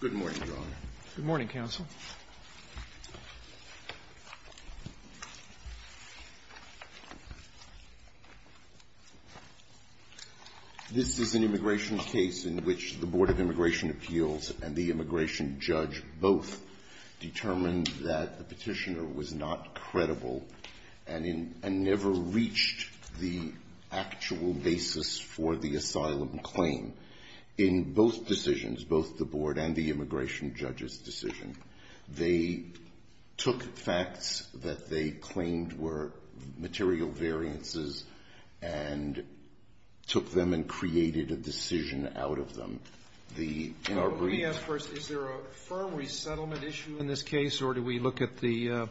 Good morning, John. Good morning, counsel. This is an immigration case in which the Board of Immigration Appeals and the immigration judge both determined that the petitioner was not credible and never reached the actual basis for the asylum claim. In both decisions, both the board and the immigration judge's decision, they took facts that they claimed were material variances and took them and created a decision out of them. Let me ask first, is there a firm resettlement issue in this case, or do we look at the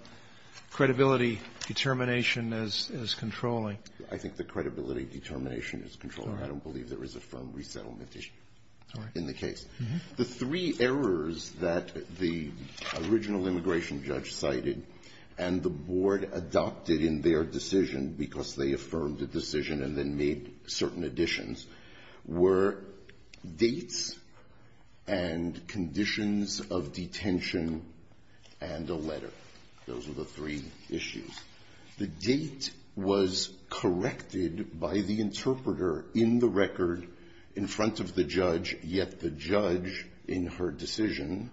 credibility determination as controlling? I think the credibility determination is controlling. I don't believe there is a firm resettlement issue in the case. The three errors that the original immigration judge cited and the board adopted in their decision because they affirmed the decision and then made certain additions were dates and conditions of detention and a letter. Those were the three issues. The date was corrected by the interpreter in the record in front of the judge, yet the judge in her decision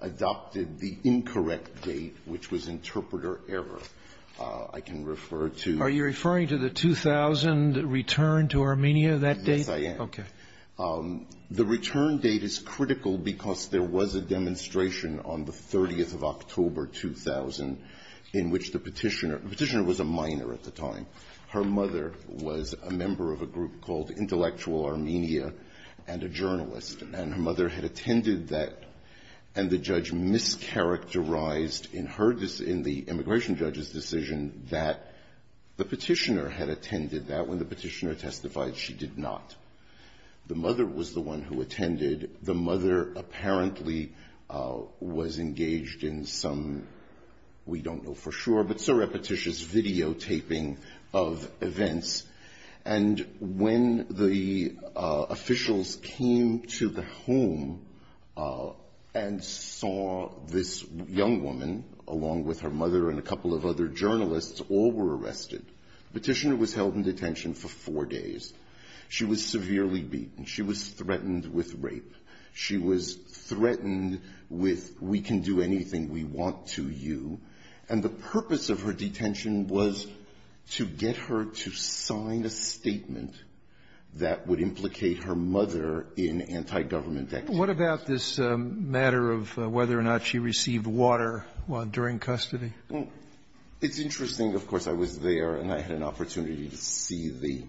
adopted the incorrect date, which was interpreter error. I can refer to Are you referring to the 2000 return to Armenia, that date? Yes, I am. Okay. The return date is critical because there was a demonstration on the 30th of October, 2000, in which the petitioner, the petitioner was a minor at the time. Her mother was a member of a group called Intellectual Armenia and a journalist. And her mother had attended that. And the judge mischaracterized in her decision, the immigration judge's decision, that the petitioner had attended that when the petitioner testified she did not. The mother apparently was engaged in some, we don't know for sure, but surreptitious videotaping of events. And when the officials came to the home and saw this young woman, along with her mother and a couple of other journalists, all were arrested. The petitioner was held in detention for four days. She was severely beaten. She was threatened with rape. She was threatened with, we can do anything we want to you. And the purpose of her detention was to get her to sign a statement that would implicate her mother in anti-government activities. What about this matter of whether or not she received water during custody? Well, it's interesting. Of course, I was there and I had an opportunity to see the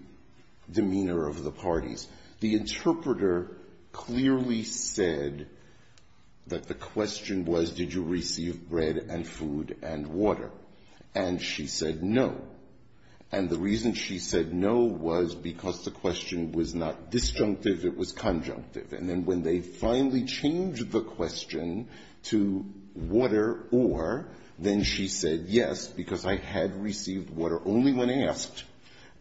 demeanor of the parties. The interpreter clearly said that the question was, did you receive bread and food and water? And she said no. And the reason she said no was because the question was not disjunctive, it was conjunctive. And then when they finally changed the question to water or, then she said yes, because I had received water only when asked.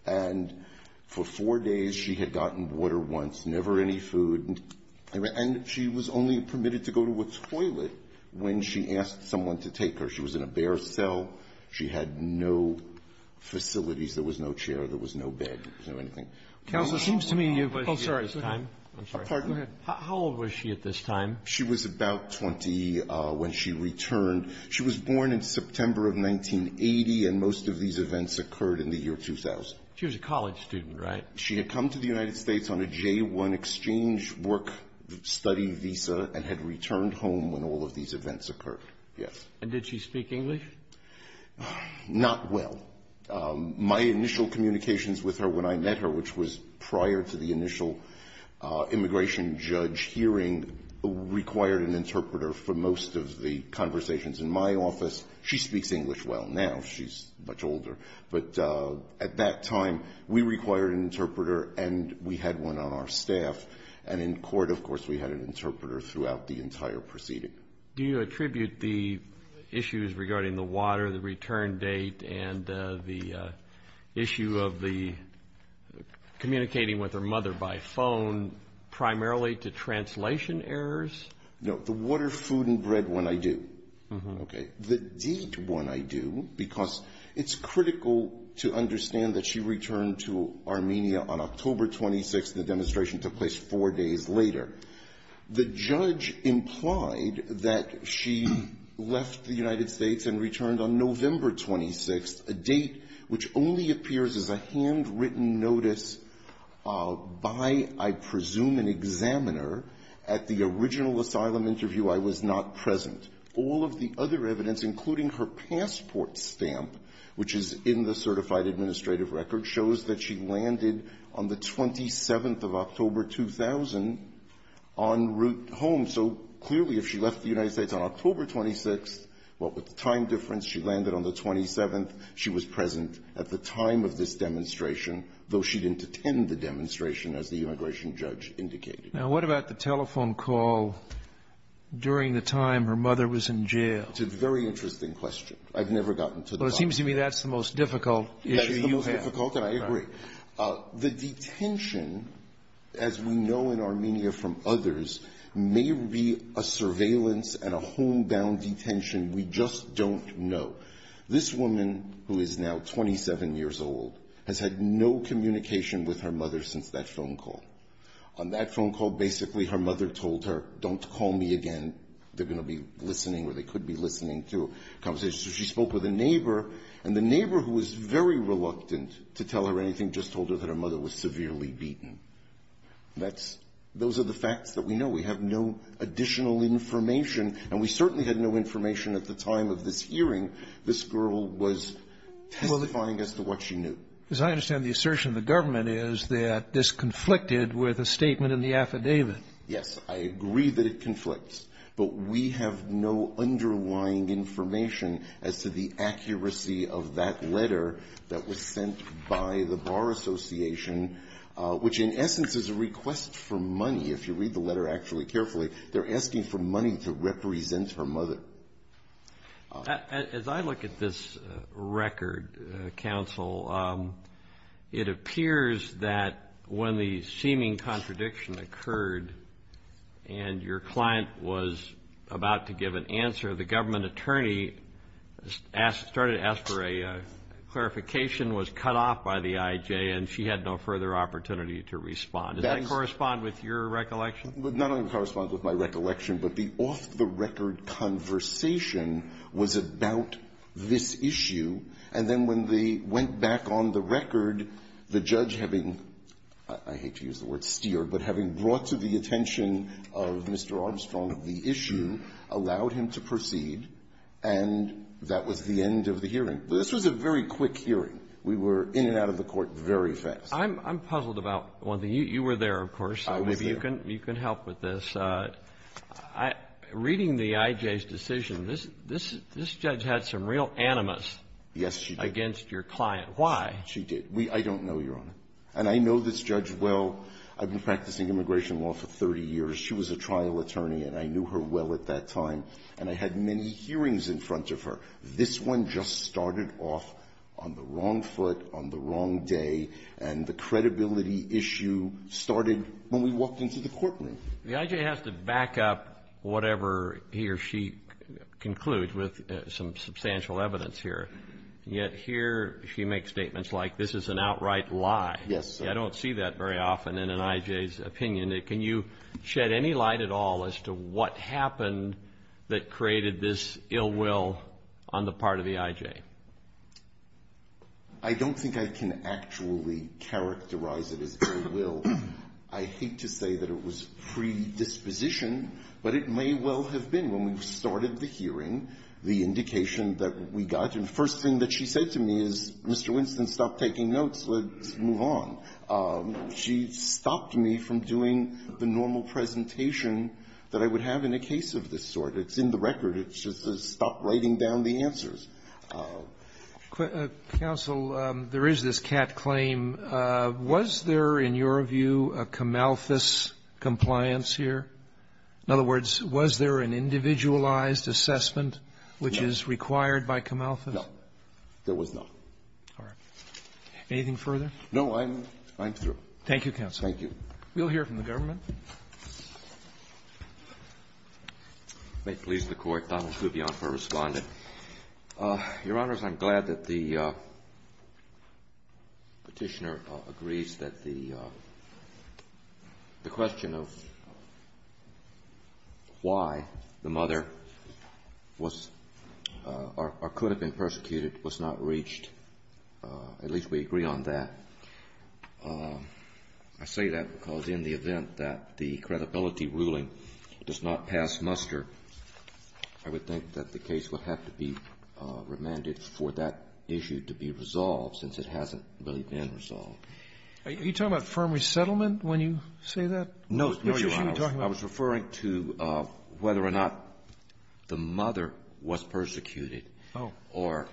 And for four days, she had gotten water once, never any food. And she was only permitted to go to a toilet when she asked someone to take her. She was in a bare cell. She had no facilities. There was no chair. There was no bed. There was no anything. Counsel, it seems to me you've been here at this time. I'm sorry. Go ahead. How old was she at this time? She was about 20 when she returned. She was born in September of 1980, and most of these events occurred in the year 2000. She was a college student, right? She had come to the United States on a J-1 exchange work study visa and had returned home when all of these events occurred. Yes. And did she speak English? Not well. My initial communications with her when I met her, which was prior to the initial immigration judge hearing, required an interpreter for most of the conversations in my office. She speaks English well now. She's much older. But at that time, we required an interpreter, and we had one on our staff. And in court, of course, we had an interpreter throughout the entire proceeding. Do you attribute the issues regarding the water, the return date, and the issue of the communicating with her mother by phone primarily to translation errors? No. The water, food, and bread one I do. Okay. The date one I do because it's critical to understand that she returned to Armenia on October 26th, and the demonstration took place four days later. The judge implied that she left the United States and returned on November 26th, a date which only appears as a handwritten notice by, I presume, an examiner at the original asylum interview. I was not present. All of the other evidence, including her passport stamp, which is in the certified administrative record, shows that she landed on the 27th of October, 2000, en route home. So clearly, if she left the United States on October 26th, what with the time difference, she landed on the 27th. She was present at the time of this demonstration, though she didn't attend the demonstration, as the immigration judge indicated. Now, what about the telephone call during the time her mother was in jail? It's a very interesting question. I've never gotten to that. Well, it seems to me that's the most difficult issue you have. That's the most difficult, and I agree. The detention, as we know in Armenia from others, may be a surveillance and a homebound detention. We just don't know. This woman, who is now 27 years old, has had no communication with her mother since that phone call. On that phone call, basically her mother told her, don't call me again. They're going to be listening, or they could be listening to a conversation. So she spoke with a neighbor, and the neighbor, who was very reluctant to tell her anything, just told her that her mother was severely beaten. That's those are the facts that we know. We have no additional information, and we certainly had no information at the time of this hearing. This girl was testifying as to what she knew. As I understand the assertion, the government is that this conflicted with a statement in the affidavit. Yes. I agree that it conflicts, but we have no underlying information as to the accuracy of that letter that was sent by the Bar Association, which in essence is a request for money. If you read the letter actually carefully, they're asking for money to represent her mother. As I look at this record, counsel, it appears that when the seeming contradiction occurred, and your client was about to give an answer, the government attorney started to ask for a clarification, was cut off by the IJ, and she had no further opportunity to respond. Does that correspond with your recollection? Not only corresponds with my recollection, but the off-the-record conversation was about this issue, and then when they went back on the record, the judge having the word steered, but having brought to the attention of Mr. Armstrong the issue, allowed him to proceed, and that was the end of the hearing. This was a very quick hearing. We were in and out of the court very fast. I'm puzzled about one thing. You were there, of course. I was there. You can help with this. Reading the IJ's decision, this judge had some real animus against your client. Why? She did. I don't know, Your Honor. And I know this judge well. I've been practicing immigration law for 30 years. She was a trial attorney, and I knew her well at that time, and I had many hearings in front of her. This one just started off on the wrong foot, on the wrong day, and the credibility issue started when we walked into the courtroom. The IJ has to back up whatever he or she concludes with some substantial evidence here, yet here she makes statements like this is an outright lie. Yes, sir. I don't see that very often in an IJ's opinion. Can you shed any light at all as to what happened that created this ill will on the part of the IJ? I don't think I can actually characterize it as ill will. I hate to say that it was predisposition, but it may well have been when we started the hearing, the indication that we got. And the first thing that she said to me is, Mr. Winston, stop taking notes. Let's move on. She stopped me from doing the normal presentation that I would have in a case of this sort. It's in the record. It's just a stop writing down the answers. Counsel, there is this cat claim. Was there, in your view, a Camalthus compliance here? In other words, was there an individualized assessment which is required by Camalthus? There was not. All right. Anything further? No, I'm through. Thank you, counsel. Thank you. We'll hear from the government. May it please the Court. Donald Rubion for Respondent. Your Honors, I'm glad that the Petitioner agrees that the question of why the mother was or could have been persecuted was not reached. At least we agree on that. I say that because in the event that the credibility ruling does not pass muster, I would think that the case would have to be remanded for that issue to be resolved since it hasn't really been resolved. Are you talking about firm resettlement when you say that? No, Your Honors. I was referring to whether or not the mother was persecuted. Oh. Or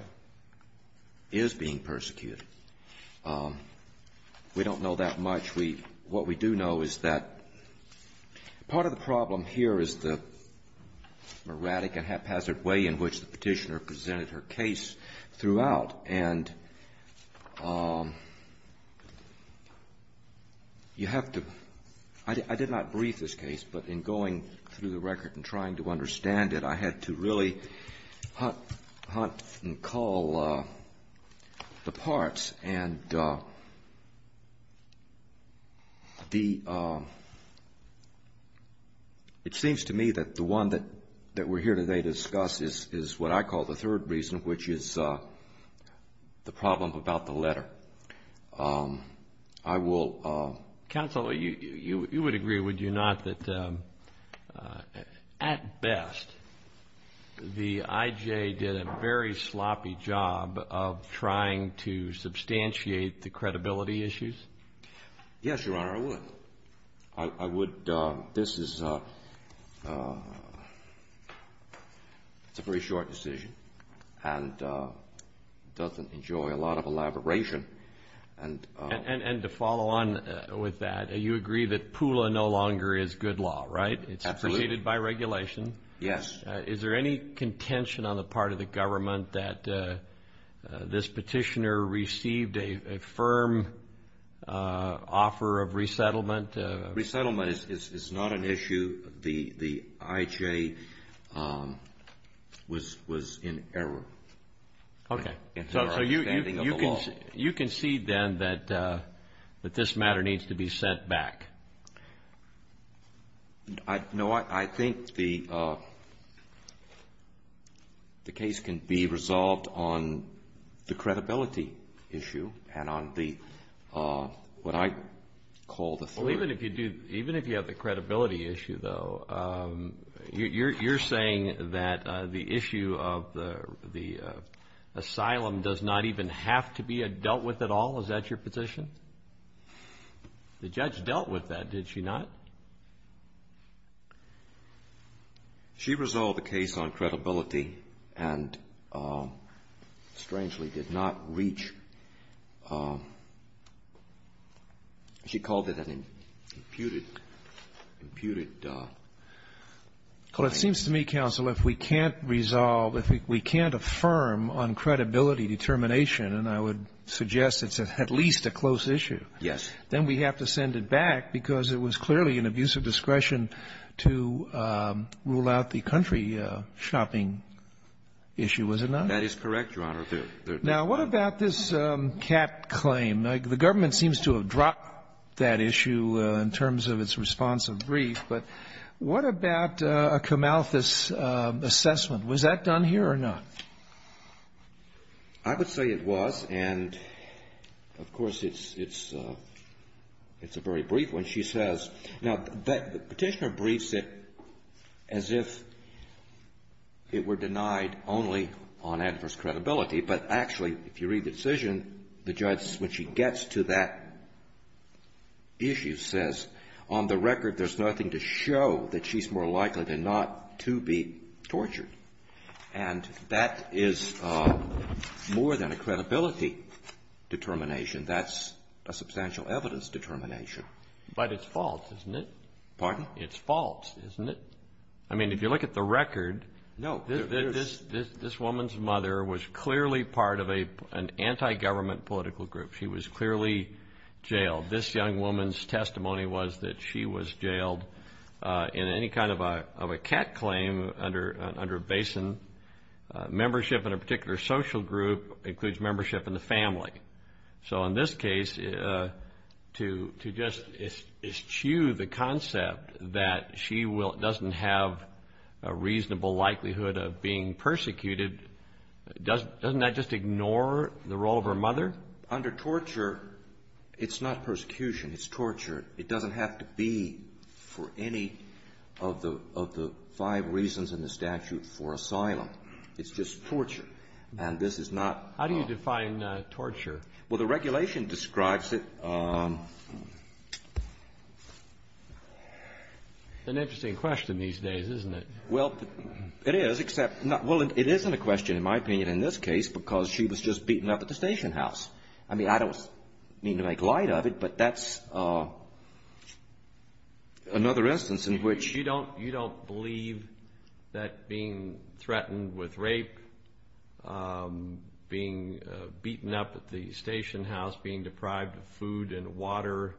is being persecuted. We don't know that much. What we do know is that part of the problem here is the erratic and haphazard way in which the Petitioner presented her case throughout. And you have to – I did not brief this case, but in going through the record and trying to understand it, I had to really hunt and call the parts. And the – it seems to me that the one that we're here today to discuss is what I call the third reason, which is the problem about the letter. Counsel, you would agree, would you not, that at best the IJ did a very sloppy job of trying to substantiate the credibility issues? Yes, Your Honor, I would. This is a very short decision and doesn't enjoy a lot of elaboration. And to follow on with that, you agree that POOLA no longer is good law, right? Absolutely. It's appreciated by regulation. Yes. Is there any contention on the part of the government that this Petitioner received a firm offer of resettlement? Resettlement is not an issue. The IJ was in error. Okay. In her understanding of the law. You concede then that this matter needs to be set back? No, I think the case can be resolved on the credibility issue and on the – what I call the third. Well, even if you do – even if you have the credibility issue, though, you're saying that the issue of the asylum does not even have to be dealt with at all? Is that your position? The judge dealt with that, did she not? She resolved the case on credibility and, strangely, did not reach – she called it an imputed claim. Well, it seems to me, counsel, if we can't resolve, if we can't affirm on credibility determination, and I would suggest it's at least a close issue. Yes. Then we have to send it back because it was clearly an abuse of discretion to rule out the country shopping issue, was it not? That is correct, Your Honor. Now, what about this cat claim? The government seems to have dropped that issue in terms of its response of grief, but what about a Camalthus assessment? Was that done here or not? I would say it was, and, of course, it's a very brief one. She says – now, the petitioner briefs it as if it were denied only on adverse credibility, but actually, if you read the decision, the judge, when she gets to that issue, says, on the record, there's nothing to show that she's more likely than not to be tortured. And that is more than a credibility determination. That's a substantial evidence determination. But it's false, isn't it? Pardon? It's false, isn't it? I mean, if you look at the record, this woman's mother was clearly part of an anti-government political group. She was clearly jailed. This young woman's testimony was that she was jailed in any kind of a cat claim under BASIN. Membership in a particular social group includes membership in the family. So in this case, to just eschew the concept that she doesn't have a reasonable likelihood of being persecuted, doesn't that just ignore the role of her mother? Under torture, it's not persecution. It's torture. It doesn't have to be for any of the five reasons in the statute for asylum. It's just torture. And this is not… How do you define torture? Well, the regulation describes it… An interesting question these days, isn't it? Well, it is, except… Well, it isn't a question, in my opinion, in this case, because she was just beaten up at the station house. I mean, I don't mean to make light of it, but that's another instance in which…… being beaten up at the station house, being deprived of food and water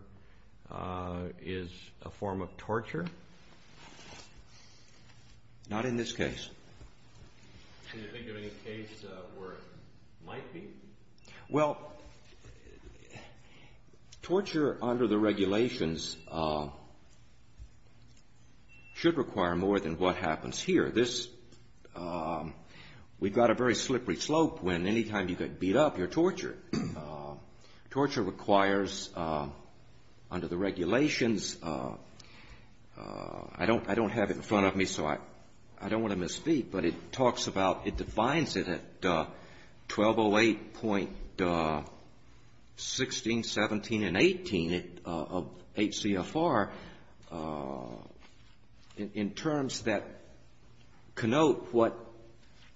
is a form of torture. Not in this case. Do you think there is a case where it might be? Well, torture under the regulations should require more than what happens here. This… We've got a very slippery slope when any time you get beat up, you're tortured. Torture requires, under the regulations… I don't have it in front of me, so I don't want to misspeak, but it talks about…… 1208.16, 17, and 18 of 8 CFR, in terms that connote what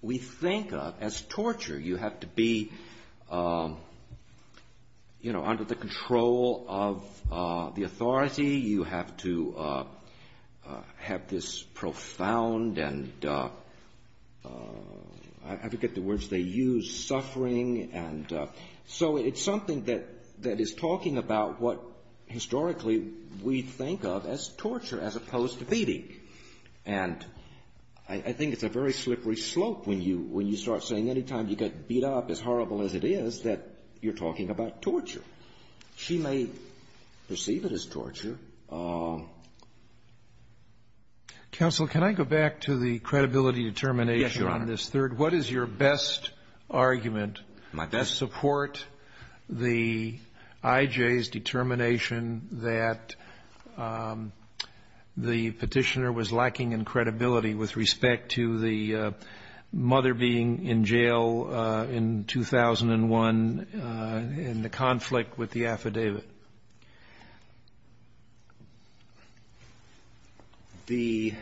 we think of as torture. You have to be, you know, under the control of the authority. You have to have this profound and… I forget the words they use. Suffering and… So it's something that is talking about what historically we think of as torture, as opposed to beating. And I think it's a very slippery slope when you start saying any time you get beat up, as horrible as it is, that you're talking about torture. She may perceive it as torture. Counsel, can I go back to the credibility determination on this third? Yes, Your Honor. What is your best argument to support the IJ's determination that the Petitioner was lacking in credibility with respect to the mother being in jail in 2001 in the conflict with the affidavit? The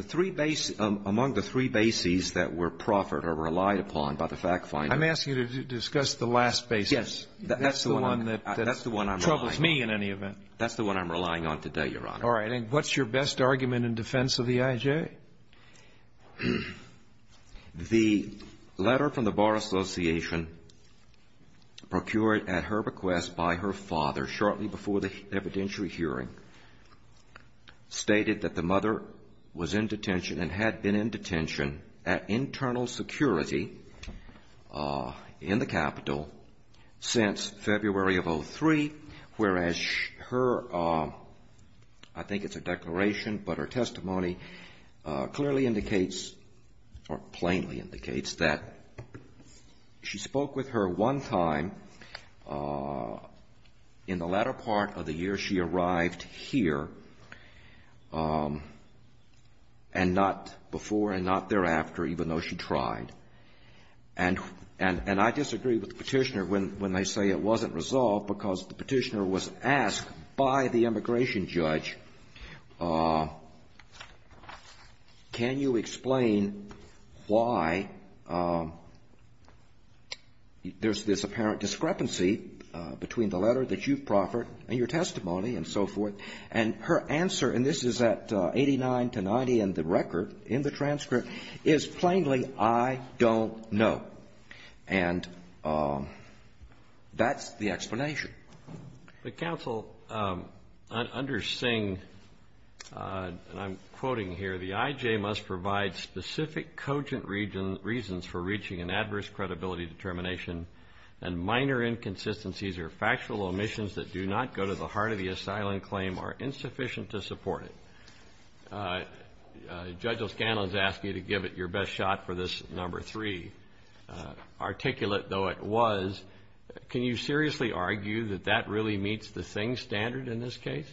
three bases… among the three bases that were proffered or relied upon by the fact finder… I'm asking you to discuss the last basis. Yes. That's the one that… That's the one I'm relying on.… troubles me in any event. That's the one I'm relying on today, Your Honor. All right. And what's your best argument in defense of the IJ? Okay. The letter from the Bar Association procured at her request by her father shortly before the evidentiary hearing stated that the mother was in detention and had been in detention at internal security in the Capitol since February of 2003, whereas her… I think it's a declaration, but her testimony clearly indicates or plainly indicates that she spoke with her one time in the latter part of the year she arrived here and not before and not thereafter, even though she tried. And I disagree with the Petitioner when they say it wasn't resolved because the Petitioner was asked by the immigration judge, can you explain why there's this apparent discrepancy between the letter that you've proffered and your testimony and so forth? And her answer, and this is at 89 to 90 in the record, in the transcript, is plainly, I don't know. And that's the explanation. But, Counsel, under Singh, and I'm quoting here, the IJ must provide specific cogent reasons for reaching an adverse credibility determination, and minor inconsistencies or factual omissions that do not go to the heart of the asylum claim are insufficient to support it. Judge O'Scanlan's asked you to give it your best shot for this number three. Articulate, though it was, can you seriously argue that that really meets the Singh standard in this case?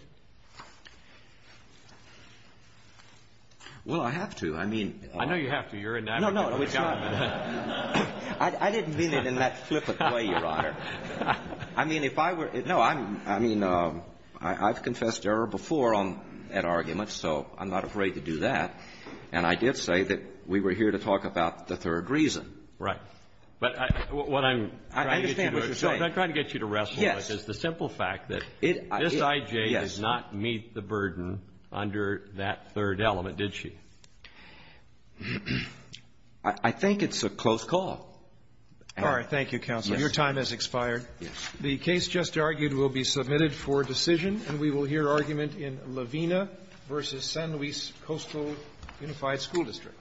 Well, I have to. I mean… I know you have to. No, no. I didn't mean it in that flippant way, Your Honor. I mean, if I were — no, I mean, I've confessed error before on that argument, so I'm not afraid to do that. And I did say that we were here to talk about the third reason. Right. But what I'm trying to get you to wrestle with is the simple fact that this IJ did not meet the burden under that third element, did she? I think it's a close call. All right. Thank you, Counsel. Your time has expired. Yes. The case just argued will be submitted for decision, and we will hear argument in Lavena v. San Luis Coastal Unified School District.